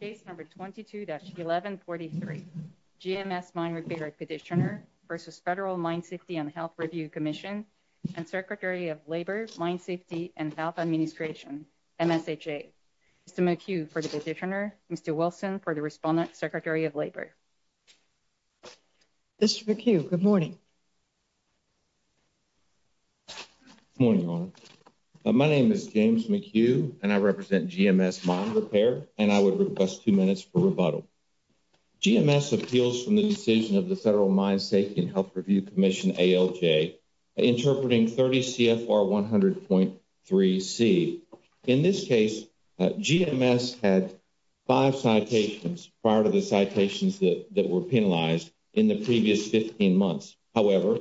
Case No. 22-1143, GMS Mine Repair Petitioner v. Federal Mine Safety and Health Review Commission and Secretary of Labor, Mine Safety and Health Administration, MSHA. Mr. McHugh for the petitioner, Mr. Wilson for the respondent, Secretary of Labor. Mr. McHugh, good morning. Good morning, Your Honor. My name is James McHugh and I represent GMS Mine Repair and I would request two minutes for rebuttal. GMS appeals from the decision of the Federal Mine Safety and Health Review Commission, ALJ, interpreting 30 CFR 100.3c. In this case, GMS had five citations prior to the citations that were penalized in the previous 15 months. However,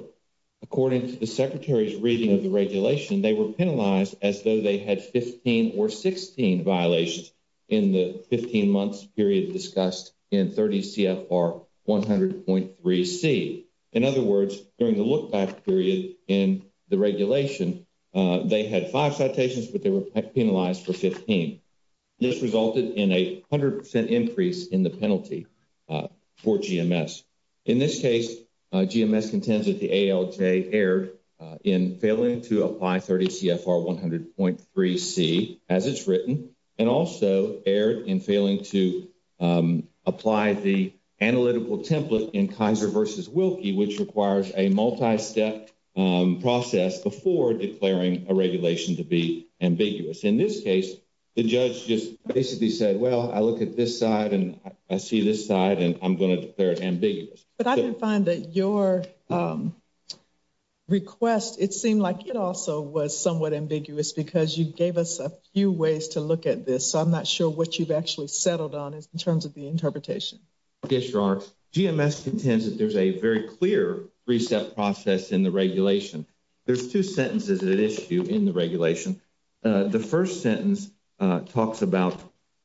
according to the Secretary's reading of the regulation, they were penalized as though they had 15 or 16 violations in the 15 months period discussed in 30 CFR 100.3c. In other words, during the look-back period in the regulation, they had five citations but they were penalized for 15. This resulted in a 100% increase in the penalty for GMS. In this case, GMS contends that ALJ erred in failing to apply 30 CFR 100.3c, as it's written, and also erred in failing to apply the analytical template in Kaiser v. Wilkie, which requires a multi-step process before declaring a regulation to be ambiguous. In this case, the judge just basically said, well, I look at this side and I see this side and I'm going to declare it ambiguous. But I didn't find that your request, it seemed like it also was somewhat ambiguous because you gave us a few ways to look at this. So I'm not sure what you've actually settled on in terms of the interpretation. Yes, Your Honor. GMS contends that there's a very clear three-step process in the regulation. There's two sentences at issue in the regulation. The first sentence talks about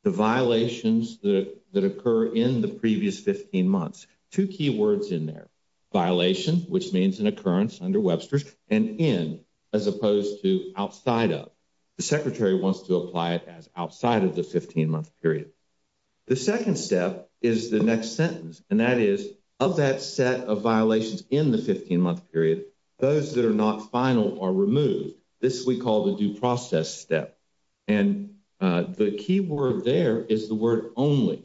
the violations that occur in the previous 15 months. Two key words in there, violation, which means an occurrence under Webster's, and in, as opposed to outside of. The Secretary wants to apply it as outside of the 15-month period. The second step is the next sentence, and that is, of that set of violations in the 15-month period, those that are not final are removed. This we call the due process step. And the key word there is the word only.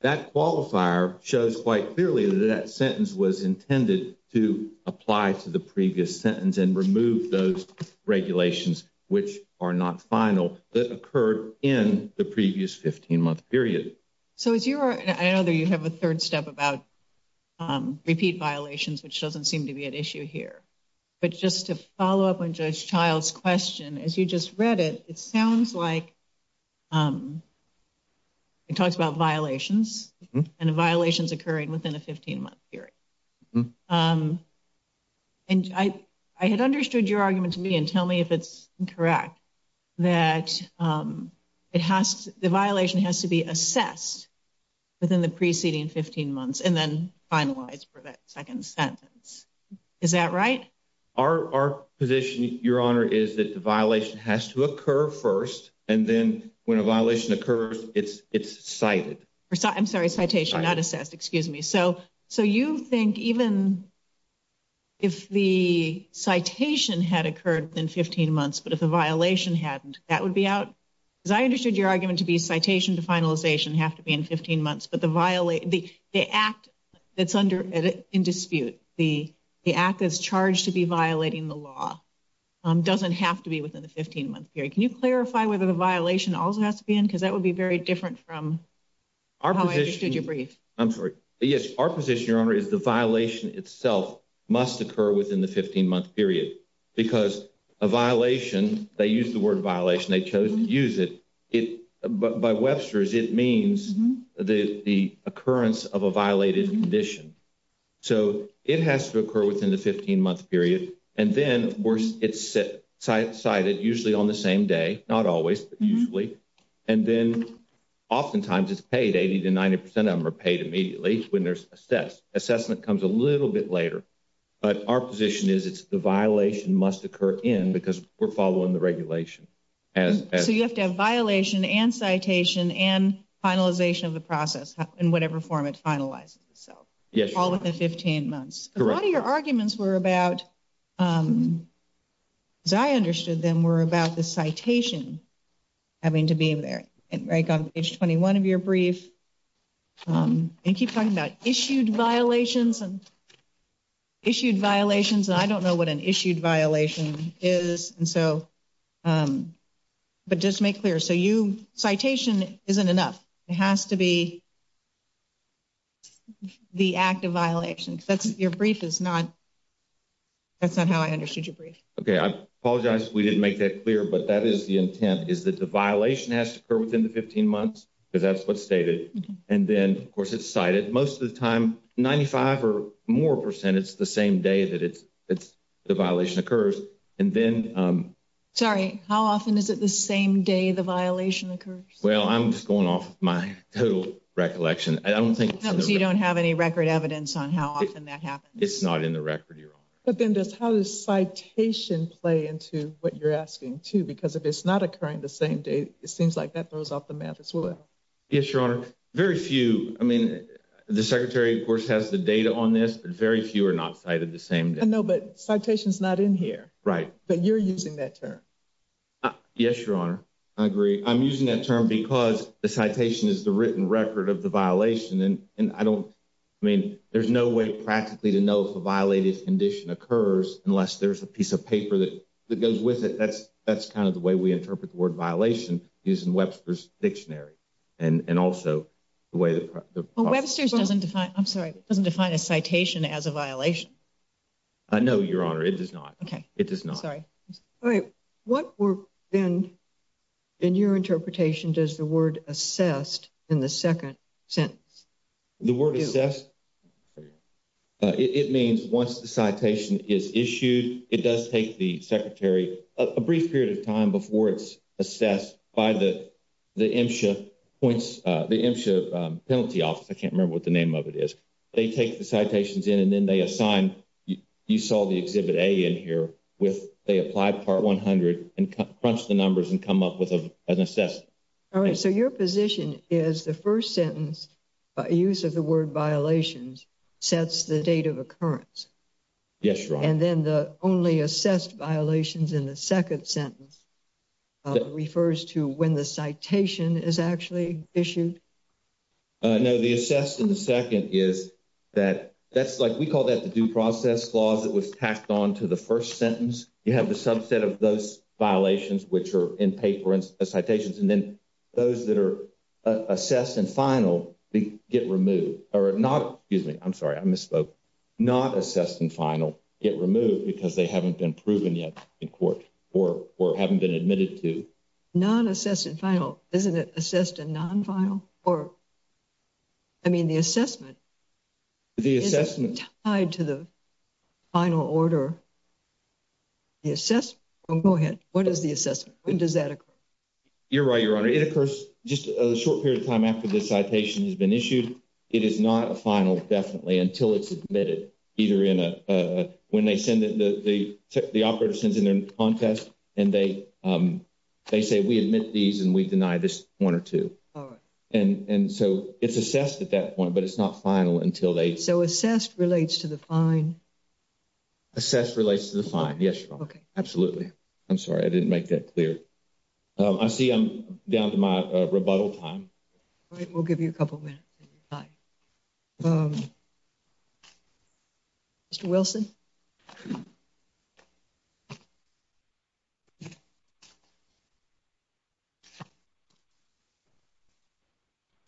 That qualifier shows quite clearly that that sentence was intended to apply to the previous sentence and remove those regulations which are not final that occurred in the previous 15-month period. So as you are, I know that you have a third step about repeat violations, which doesn't seem to be at issue here. But just to follow up on Judge Child's question, as you just read it, it sounds like it talks about violations and the violations occurring within a 15-month period. And I had understood your argument to me, and tell me if it's incorrect, that the violation has to be assessed within the preceding 15 months and then finalized for that second sentence. Is that right? Our position, Your Honor, is that the violation has to occur first, and then when a violation occurs, it's cited. I'm sorry, citation, not assessed. Excuse me. So you think even if the citation had occurred within 15 months, but if the violation hadn't, that would be out? Because I understood your argument to be citation to in dispute. The act is charged to be violating the law. It doesn't have to be within the 15-month period. Can you clarify whether the violation also has to be in? Because that would be very different from how I understood your brief. I'm sorry. Yes, our position, Your Honor, is the violation itself must occur within the 15-month period. Because a violation, they use the word violation, they chose to use it. But by Webster's, it means the occurrence of a violated condition. So it has to occur within the 15-month period. And then, of course, it's cited usually on the same day, not always, but usually. And then oftentimes it's paid, 80 to 90 percent of them are paid immediately when they're assessed. Assessment comes a little bit later. But our position is it's the violation must occur in because we're following the regulation. So you have to have violation and citation and finalization of the process in whatever form it is. Correct. A lot of your arguments were about, as I understood them, were about the citation having to be there. And right on page 21 of your brief, you keep talking about issued violations and issued violations. And I don't know what an issued violation is. And so but just make clear. Citation isn't enough. It has to be the act of violation. That's your brief is not. That's not how I understood your brief. Okay. I apologize if we didn't make that clear. But that is the intent is that the violation has to occur within the 15 months because that's what's stated. And then, of course, it's cited most of the time, 95 or more percent. It's the same day that it's it's the violation occurs. And then sorry, how often is it the same day the violation occurs? Well, I'm just going off my total recollection. I don't think you don't have any record evidence on how often that happens. It's not in the record. But then just how does citation play into what you're asking to? Because if it's not occurring the same day, it seems like that throws off the math as well. Yes, your honor. Very few. I mean, the secretary, of course, has the data on this, but very few are not cited the same day. No, but citations not in here. Right. But you're using that term. Yes, your honor. I agree. I'm using that term because the citation is the written record of the violation. And I don't mean there's no way practically to know if a violated condition occurs unless there's a piece of paper that goes with it. That's that's kind of the way we interpret the word violation using dictionary and also the way that Webster's doesn't define. I'm sorry. It doesn't define a citation as a violation. I know, your honor, it does not. OK, it does not. Sorry. All right. What were then in your interpretation? Does the word assessed in the second sentence, the word assess? It means once the citation is issued, it does take the secretary a brief period of time before it's assessed by the the points, the penalty office. I can't remember what the name of it is. They take the citations in and then they assign. You saw the exhibit in here with they applied part 100 and crunched the numbers and come up with an assessment. All right. So your position is the first sentence by use of the word violations sets the date of occurrence. Yes. And then the only assessed violations in the second sentence refers to when the citation is actually issued. No, the assessed in the second is that that's like we call that the due process clause that was tacked on to the first sentence. You have the subset of those violations which are in paper and citations and then those that are assessed and get removed or not. Excuse me. I'm sorry. I misspoke. Not assessed and final get removed because they haven't been proven yet in court or or haven't been admitted to non-assessed and final. Isn't it assessed and non-final or. I mean, the assessment. The assessment tied to the final order. Yes, go ahead. What is the assessment? When does that You're right, your honor. It occurs just a short period of time after the citation has been issued. It is not a final definitely until it's admitted either in a when they send it the the operator sends in their contest and they they say we admit these and we deny this one or two. And and so it's assessed at that point, but it's not final until they so assessed relates to the fine. Assessed relates to the fine. Yes. Okay. Absolutely. I'm sorry. I didn't make that clear. I see I'm down to my rebuttal time. All right. We'll give you a couple minutes. Mr. Wilson.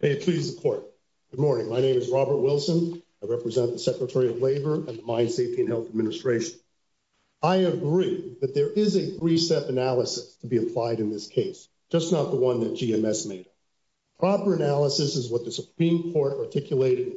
May it please the court. Good morning. My name is Robert Wilson. I represent the Secretary of Labor and the Mine Safety and Health Administration. I agree that there is a three-step analysis to be just not the one that GMS made. Proper analysis is what the Supreme Court articulated.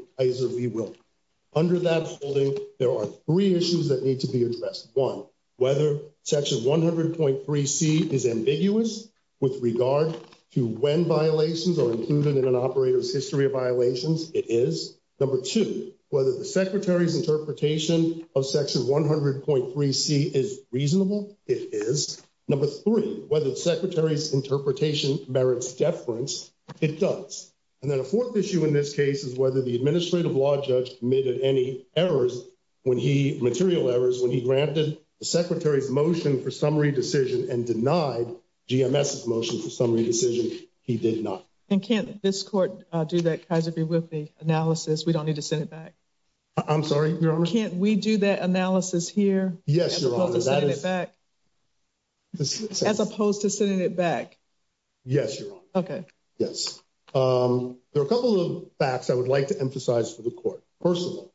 Under that holding, there are three issues that need to be addressed. One, whether section 100.3c is ambiguous with regard to when violations are included in an operator's history of violations. It is number two, whether the secretary's interpretation of section 100.3c is reasonable. It is number three, whether the secretary's interpretation merits deference. It does. And then a fourth issue in this case is whether the administrative law judge admitted any errors when he material errors when he granted the secretary's motion for summary decision and denied GMS motion for summary decision. He did not. And can't this court do that Kaiser B. Whitney analysis? We don't need to send it back. I'm sorry. Can't we do that analysis here? Yes, Your Honor. As opposed to sending it back? Yes, Your Honor. Okay. Yes. There are a couple of facts I would like to emphasize for the court. First of all,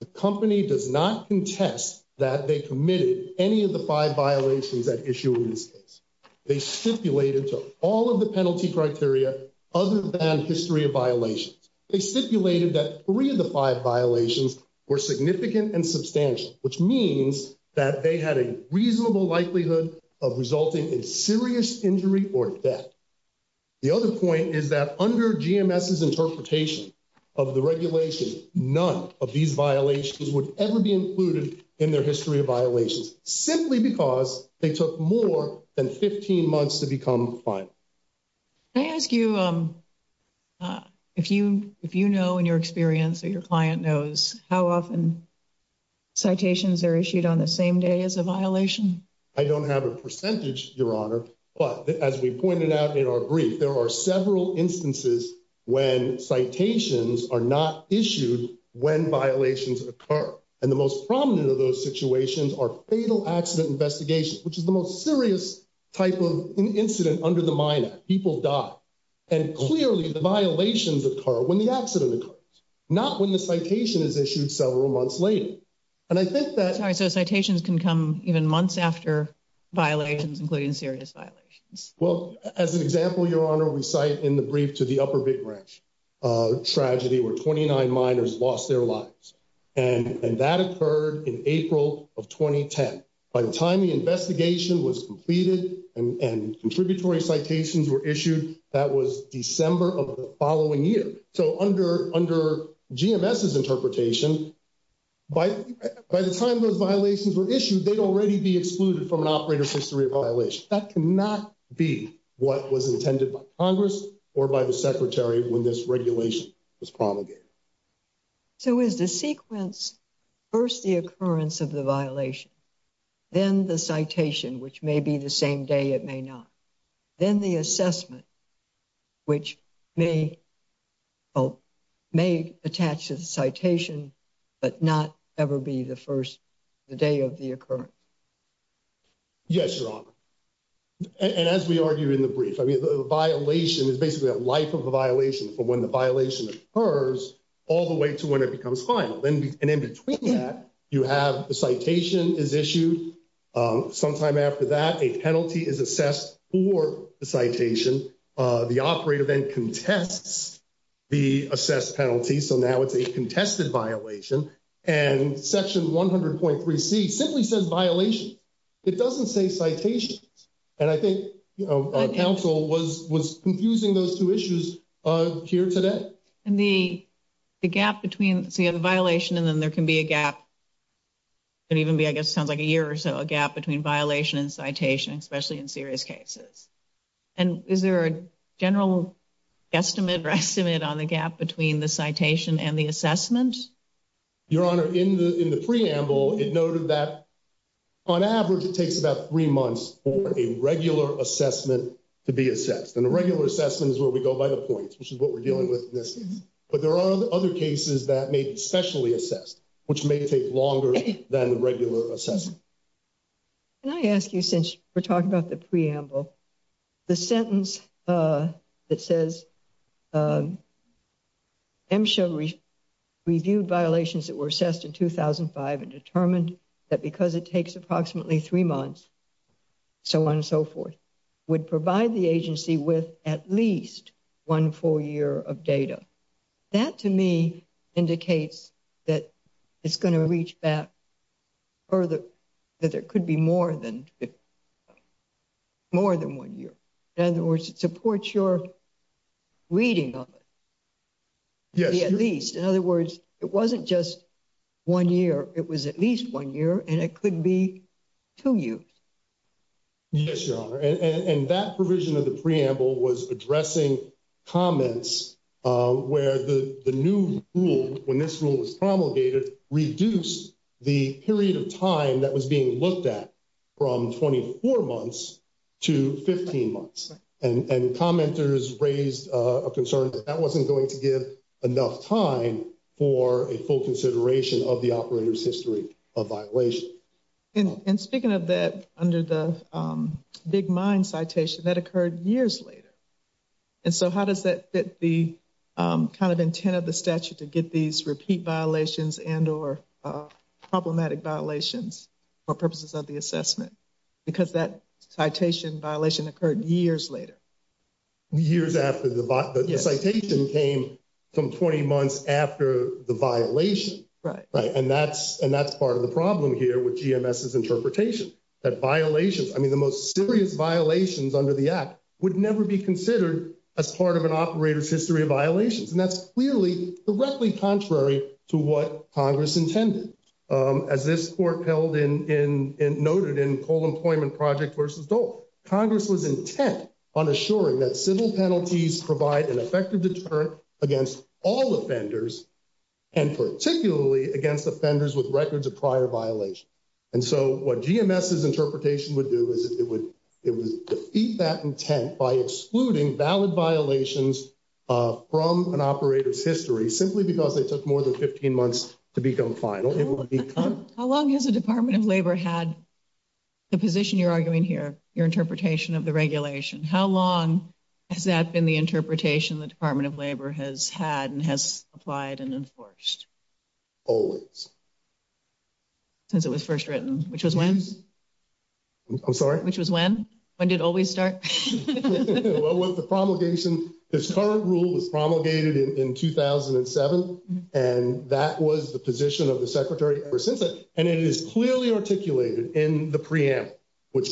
the company does not contest that they committed any of the five violations at issue in this case. They stipulated to all of the penalty criteria other than history of violations. They stipulated that three of the five violations were significant and substantial, which means that they had a reasonable likelihood of resulting in serious injury or death. The other point is that under GMS's interpretation of the regulation, none of these violations would ever be included in their history of violations, simply because they took more than 15 months to become final. Can I ask you, if you know in your experience or your client knows how often citations are issued on the same day as a violation? I don't have a percentage, Your Honor, but as we pointed out in our brief, there are several instances when citations are not issued when violations occur. And the most prominent of those situations are fatal accident investigations, which is the most serious type of incident under the Minot Act. People die. And clearly the violations occur when the accident occurs, not when the citation is issued several months later. And I think that... Sorry, so citations can come even months after violations, including serious violations. Well, as an example, Your Honor, we cite in the brief to the Upper Big Ranch tragedy where 29 miners lost their lives. And that occurred in April of 2010. By the time the investigation was completed and contributory citations were issued, that was December of the following year. So under GMS's interpretation, by the time those violations were issued, they'd already be excluded from an operator's history of violations. That cannot be what was intended by Congress or by the Secretary when this regulation was promulgated. So is the sequence first the may be the same day, it may not. Then the assessment, which may attach to the citation, but not ever be the first day of the occurrence. Yes, Your Honor. And as we argued in the brief, I mean, the violation is basically a life of a violation from when the violation occurs all the way to when it becomes final. And in between that, you have the citation is issued sometime after that a penalty is assessed for the citation. The operator then contests the assessed penalty. So now it's a contested violation. And Section 100.3c simply says violations. It doesn't say citations. And I think, you know, counsel was was confusing those two issues here today. And the gap between the violation and then there can be a gap. And even be, I guess, sounds like a year or so a gap between violation and citation, especially in serious cases. And is there a general estimate or estimate on the gap between the citation and the assessment? Your Honor, in the in the preamble, it noted that on average, it takes about three months for a regular assessment to be assessed. And a regular assessment is where we go by the points, which is what we're dealing with. But there are other cases that may be specially assessed, which may take longer than the regular assessment. Can I ask you, since we're talking about the preamble, the sentence that says MSHA reviewed violations that were assessed in 2005 and determined that because it takes approximately three months, so on and so forth, would provide the agency with at least one full year of data. That to me indicates that it's going to reach back further, that there could be more than more than one year. In other words, it supports your reading of it. Yes, at least. In other words, it wasn't just one year. It was at least one year and it could be two years. Yes, Your Honor, and that provision of the preamble was addressing comments where the new rule, when this rule was promulgated, reduced the period of time that was being looked at from 24 months to 15 months. And commenters raised a concern that that wasn't going to give enough time for a full consideration of the operator's history of violation. And speaking of that, under the Big Mind citation, that occurred years later. And so how does that fit the kind of intent of the statute to get these repeat violations and or problematic violations for purposes of the assessment? Because that citation violation occurred years later. Years after the citation came from 20 months after the violation. Right. And that's that violation. I mean, the most serious violations under the act would never be considered as part of an operator's history of violations. And that's clearly directly contrary to what Congress intended. As this court held in and noted in Coal Employment Project versus Dole, Congress was intent on assuring that civil penalties provide an effective deterrent against all offenders and particularly against offenders with records of prior violation. And so what GMS's interpretation would do is it would it would defeat that intent by excluding valid violations from an operator's history simply because they took more than 15 months to become final. How long has the Department of Labor had the position you're arguing here, your interpretation of the regulation, how long has that been the interpretation the first written, which was when? I'm sorry, which was when? When did it always start? Well, with the promulgation, this current rule was promulgated in 2007. And that was the position of the secretary ever since. And it is clearly articulated in the preamble, which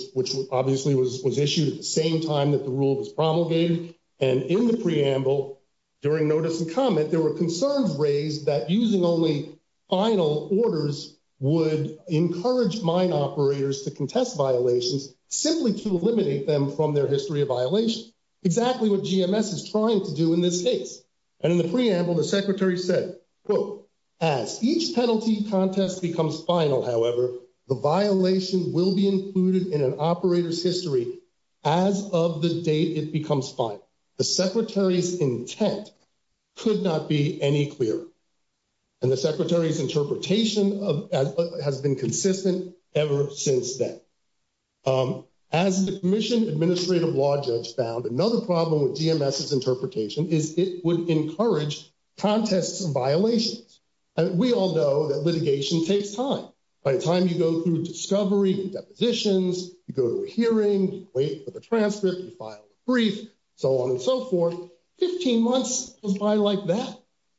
obviously was issued at the same time that the rule was promulgated. And in the preamble, during notice and comment, there were concerns raised that using only final orders would encourage mine operators to contest violations simply to eliminate them from their history of violation. Exactly what GMS is trying to do in this case. And in the preamble, the secretary said, quote, as each penalty contest becomes final, however, the violation will be included in an operator's could not be any clearer. And the secretary's interpretation of has been consistent ever since then. As the Commission Administrative Law Judge found another problem with GMS's interpretation is it would encourage contests and violations. And we all know that litigation takes time. By the time you go through discovery and depositions, you go to a hearing, wait for the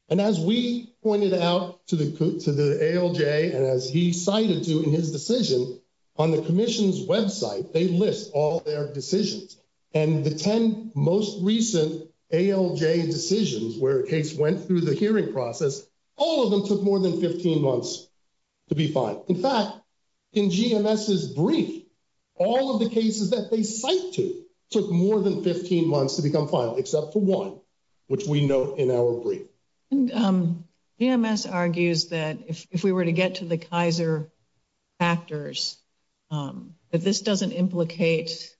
And as we pointed out to the to the ALJ, and as he cited to in his decision, on the commission's website, they list all their decisions. And the 10 most recent ALJ decisions where a case went through the hearing process, all of them took more than 15 months to be fine. In fact, in GMS's brief, all of the cases that they cite to took more than 15 months to become except for one, which we note in our brief. And GMS argues that if we were to get to the Kaiser factors, that this doesn't implicate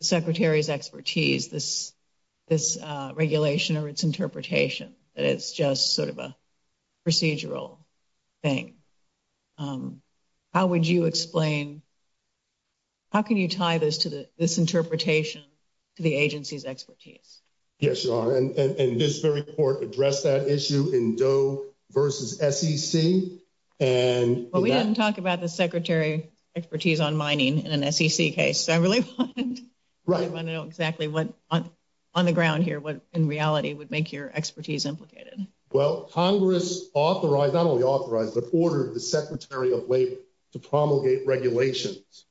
the secretary's expertise, this, this regulation or its interpretation, that it's just sort of a procedural thing. How would you explain? How can you tie this to this interpretation to the agency's expertise? Yes, your honor. And this very court addressed that issue in Doe versus SEC. And we didn't talk about the secretary expertise on mining in an SEC case. I really want to know exactly what on the ground here, what in reality would make your expertise implicated? Well, Congress authorized not only authorized, but ordered the Secretary of Labor to promulgate regulations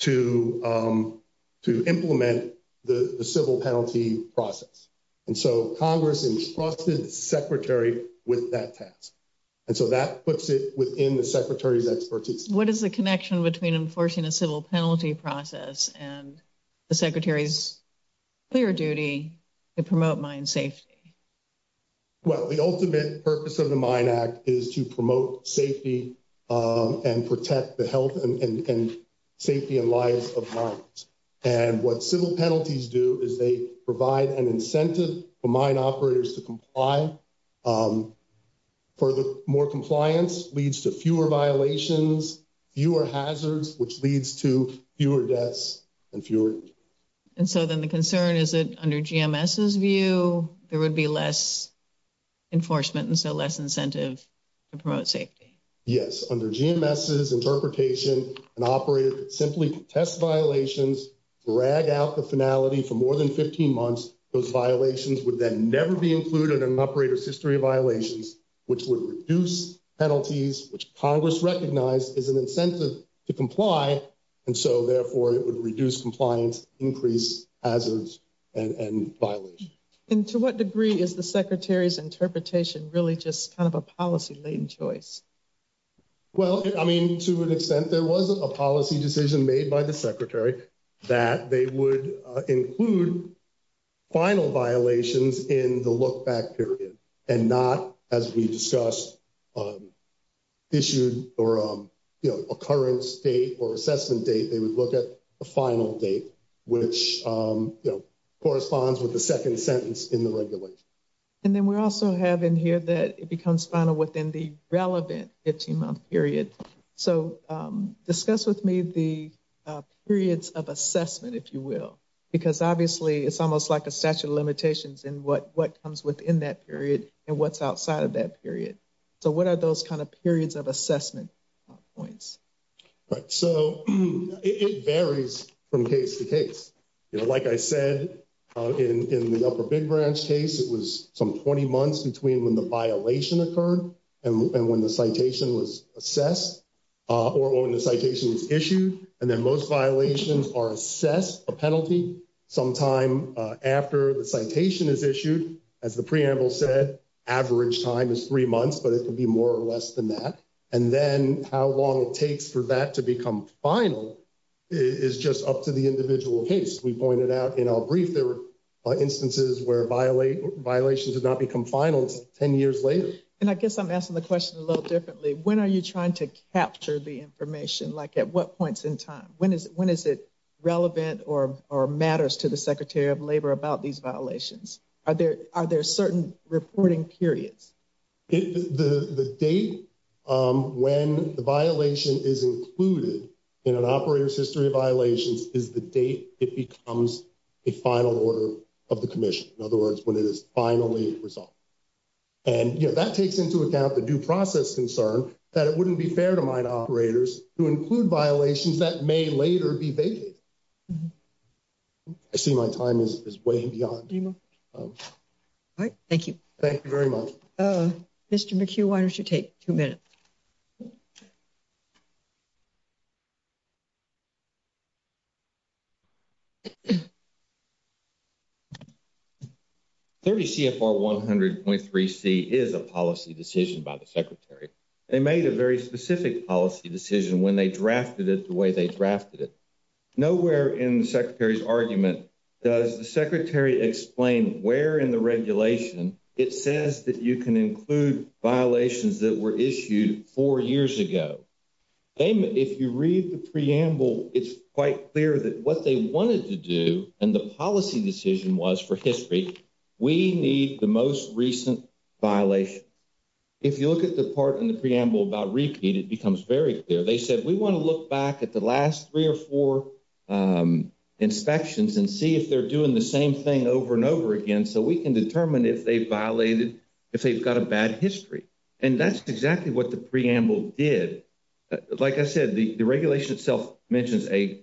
to, to implement the civil penalty process. And so Congress entrusted the secretary with that task. And so that puts it within the secretary's expertise. What is the connection between enforcing a civil penalty process and the secretary's clear duty to promote mine safety? Well, the ultimate purpose of the Mine Act is to promote safety and protect the health and safety and lives of mines. And what civil penalties do is they provide an incentive for mine operators to comply. For the more compliance leads to fewer violations, fewer hazards, which leads to fewer deaths and fewer. And so then the concern is that under GMS's view, there would be less enforcement and so less incentive to promote safety. Yes. Under GMS's interpretation, an operator could simply test violations, drag out the finality for more than 15 months. Those violations would then never be included in an operator's history of violations, which would reduce penalties, which Congress recognized as an incentive to comply. And so therefore it would reduce compliance, increase hazards and violations. And to what degree is the secretary's interpretation really just kind of a policy-laden choice? Well, I mean, to an extent there wasn't a policy decision made by the secretary that they would include final violations in the look back period and not as we discussed on issued or occurrence date or assessment date, they would look at a final date, which corresponds with the second sentence in the regulation. And then we also have in here that it becomes final within the relevant 15-month period. So discuss with me the periods of assessment, if you will, because obviously it's almost like a statute of limitations in what comes within that period and what's outside of that period. So what are those kind of periods of assessment points? Right. So it varies from case to case. Like I said, in the Upper Big Branch case, it was some 20 months between when the violation occurred and when the citation was assessed or when the citation was issued. And then most violations are assessed a penalty sometime after the citation is issued. As the preamble said, average time is three months, but it could be more or less than that. And then how long it takes for that to become final is just up to the individual case. We pointed out in our brief, there were instances where violations have not become finals 10 years later. And I guess I'm asking the question a little differently. When are you trying to capture the information? Like at what points in time? When is it relevant or matters to the Secretary of Labor about these violations? Are there certain reporting periods? The date when the violation is included in an operator's history of violations is the date it becomes a final order of the commission. In other words, when it is finally resolved. And that takes into account the due process concern that it wouldn't be fair to mine operators who include violations that may later be vetted. I see my time is way beyond. All right. Thank you. Thank you very much. Mr. McHugh, why don't you take two minutes? 30 CFR 100.3C is a policy decision by the Secretary. They made a very specific policy decision when they drafted it the way they drafted it. Nowhere in the Secretary's argument does the Secretary explain where in the regulation it says that you can include violations that were They made, if you read the preamble, it's quite clear that what they wanted to do and the policy decision was for history, we need the most recent violations. If you look at the part in the preamble about repeat, it becomes very clear. They said, we want to look back at the last three or four inspections and see if they're doing the same thing over and over again, so we can determine if they violated, if they've got a bad history. And that's exactly what the Like I said, the regulation itself mentions a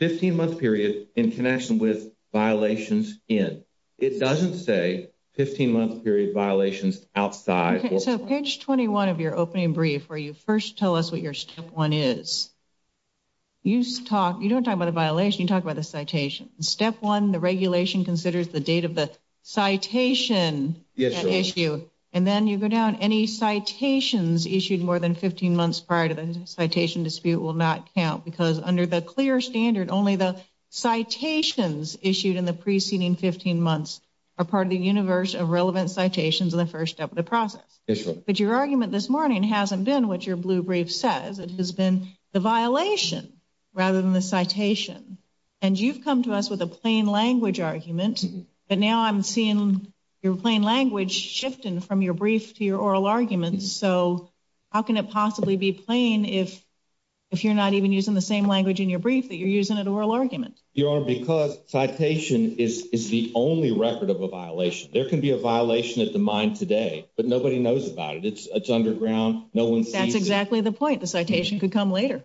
15-month period in connection with violations in. It doesn't say 15-month period violations outside. So page 21 of your opening brief, where you first tell us what your step one is, you don't talk about the violation, you talk about the citation. Step one, the regulation considers the date of the citation issue. And then you go down any citations issued more than 15 months prior to the citation dispute will not count because under the clear standard, only the citations issued in the preceding 15 months are part of the universe of relevant citations in the first step of the process. But your argument this morning hasn't been what your blue brief says. It has been the violation rather than the citation. And you've come to us with a plain language argument. But now I'm seeing your plain language shifting from your brief to your oral arguments. So how can it possibly be plain if you're not even using the same language in your brief that you're using an oral argument? Your Honor, because citation is the only record of a violation. There can be a violation at the mine today, but nobody knows about it. It's underground. No one sees it. That's exactly the point. The citation could come later.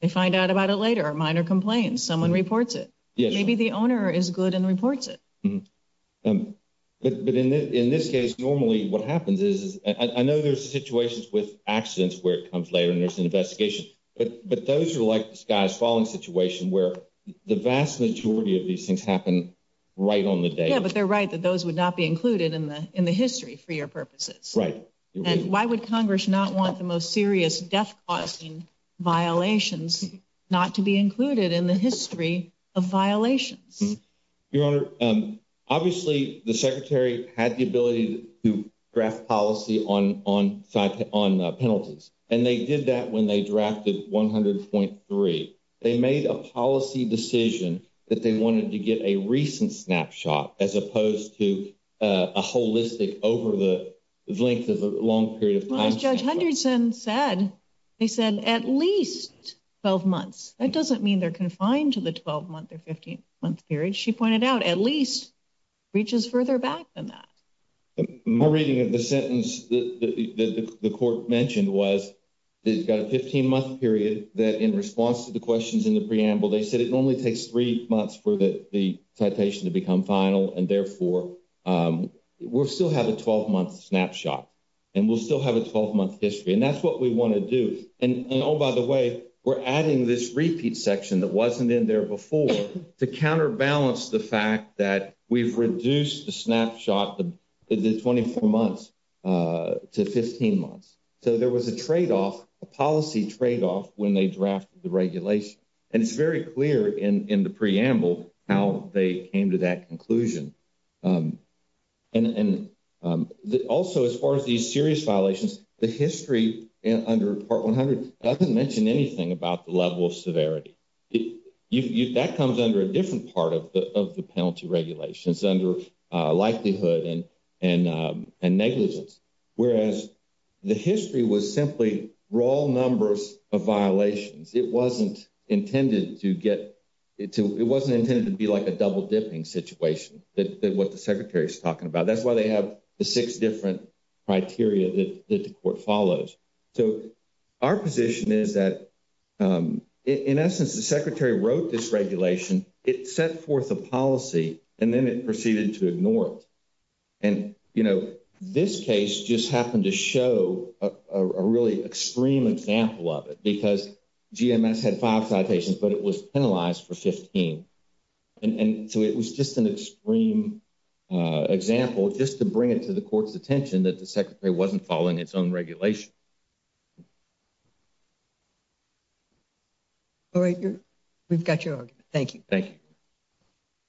They find out about it later, minor complaints, someone reports it. Maybe the owner is good and reports it. But in this case, normally what happens is I know there's situations with accidents where it comes later and there's an investigation, but those are like the sky's falling situation where the vast majority of these things happen right on the day. Yeah, but they're right that those would not be included in the history for your purposes. Right. And why would Congress not want the most serious death-causing violations not to be included? Your Honor, obviously the Secretary had the ability to draft policy on penalties, and they did that when they drafted 100.3. They made a policy decision that they wanted to get a recent snapshot as opposed to a holistic over the length of a long period of time. Well, as Judge Henderson said, they said at least 12 months. That doesn't mean they're at least reaches further back than that. My reading of the sentence that the Court mentioned was it's got a 15-month period that in response to the questions in the preamble, they said it only takes three months for the citation to become final, and therefore we'll still have a 12-month snapshot and we'll still have a 12-month history. And that's what we want to do. And oh, by the way, we're adding this repeat section that wasn't in there before to counterbalance the fact that we've reduced the snapshot, the 24 months, to 15 months. So there was a trade-off, a policy trade-off, when they drafted the regulation. And it's very clear in the preamble how they came to that conclusion. And also as far as these serious violations, the history under Part 100 doesn't mention anything about the level of severity. That comes under a different part of the penalty regulation. It's under likelihood and negligence. Whereas the history was simply raw numbers of violations. It wasn't intended to be like a double-dipping situation, what the Secretary is talking about. That's why they have the six different criteria that the Court follows. So our position is that, in essence, the Secretary wrote this regulation, it set forth a policy, and then it proceeded to ignore it. And, you know, this case just happened to show a really extreme example of it because GMS had five citations, but it was penalized for 15. And so it was just an extreme example just to bring it to the Court's attention that the Secretary wasn't following its own regulation. All right. We've got your argument. Thank you. Thank you.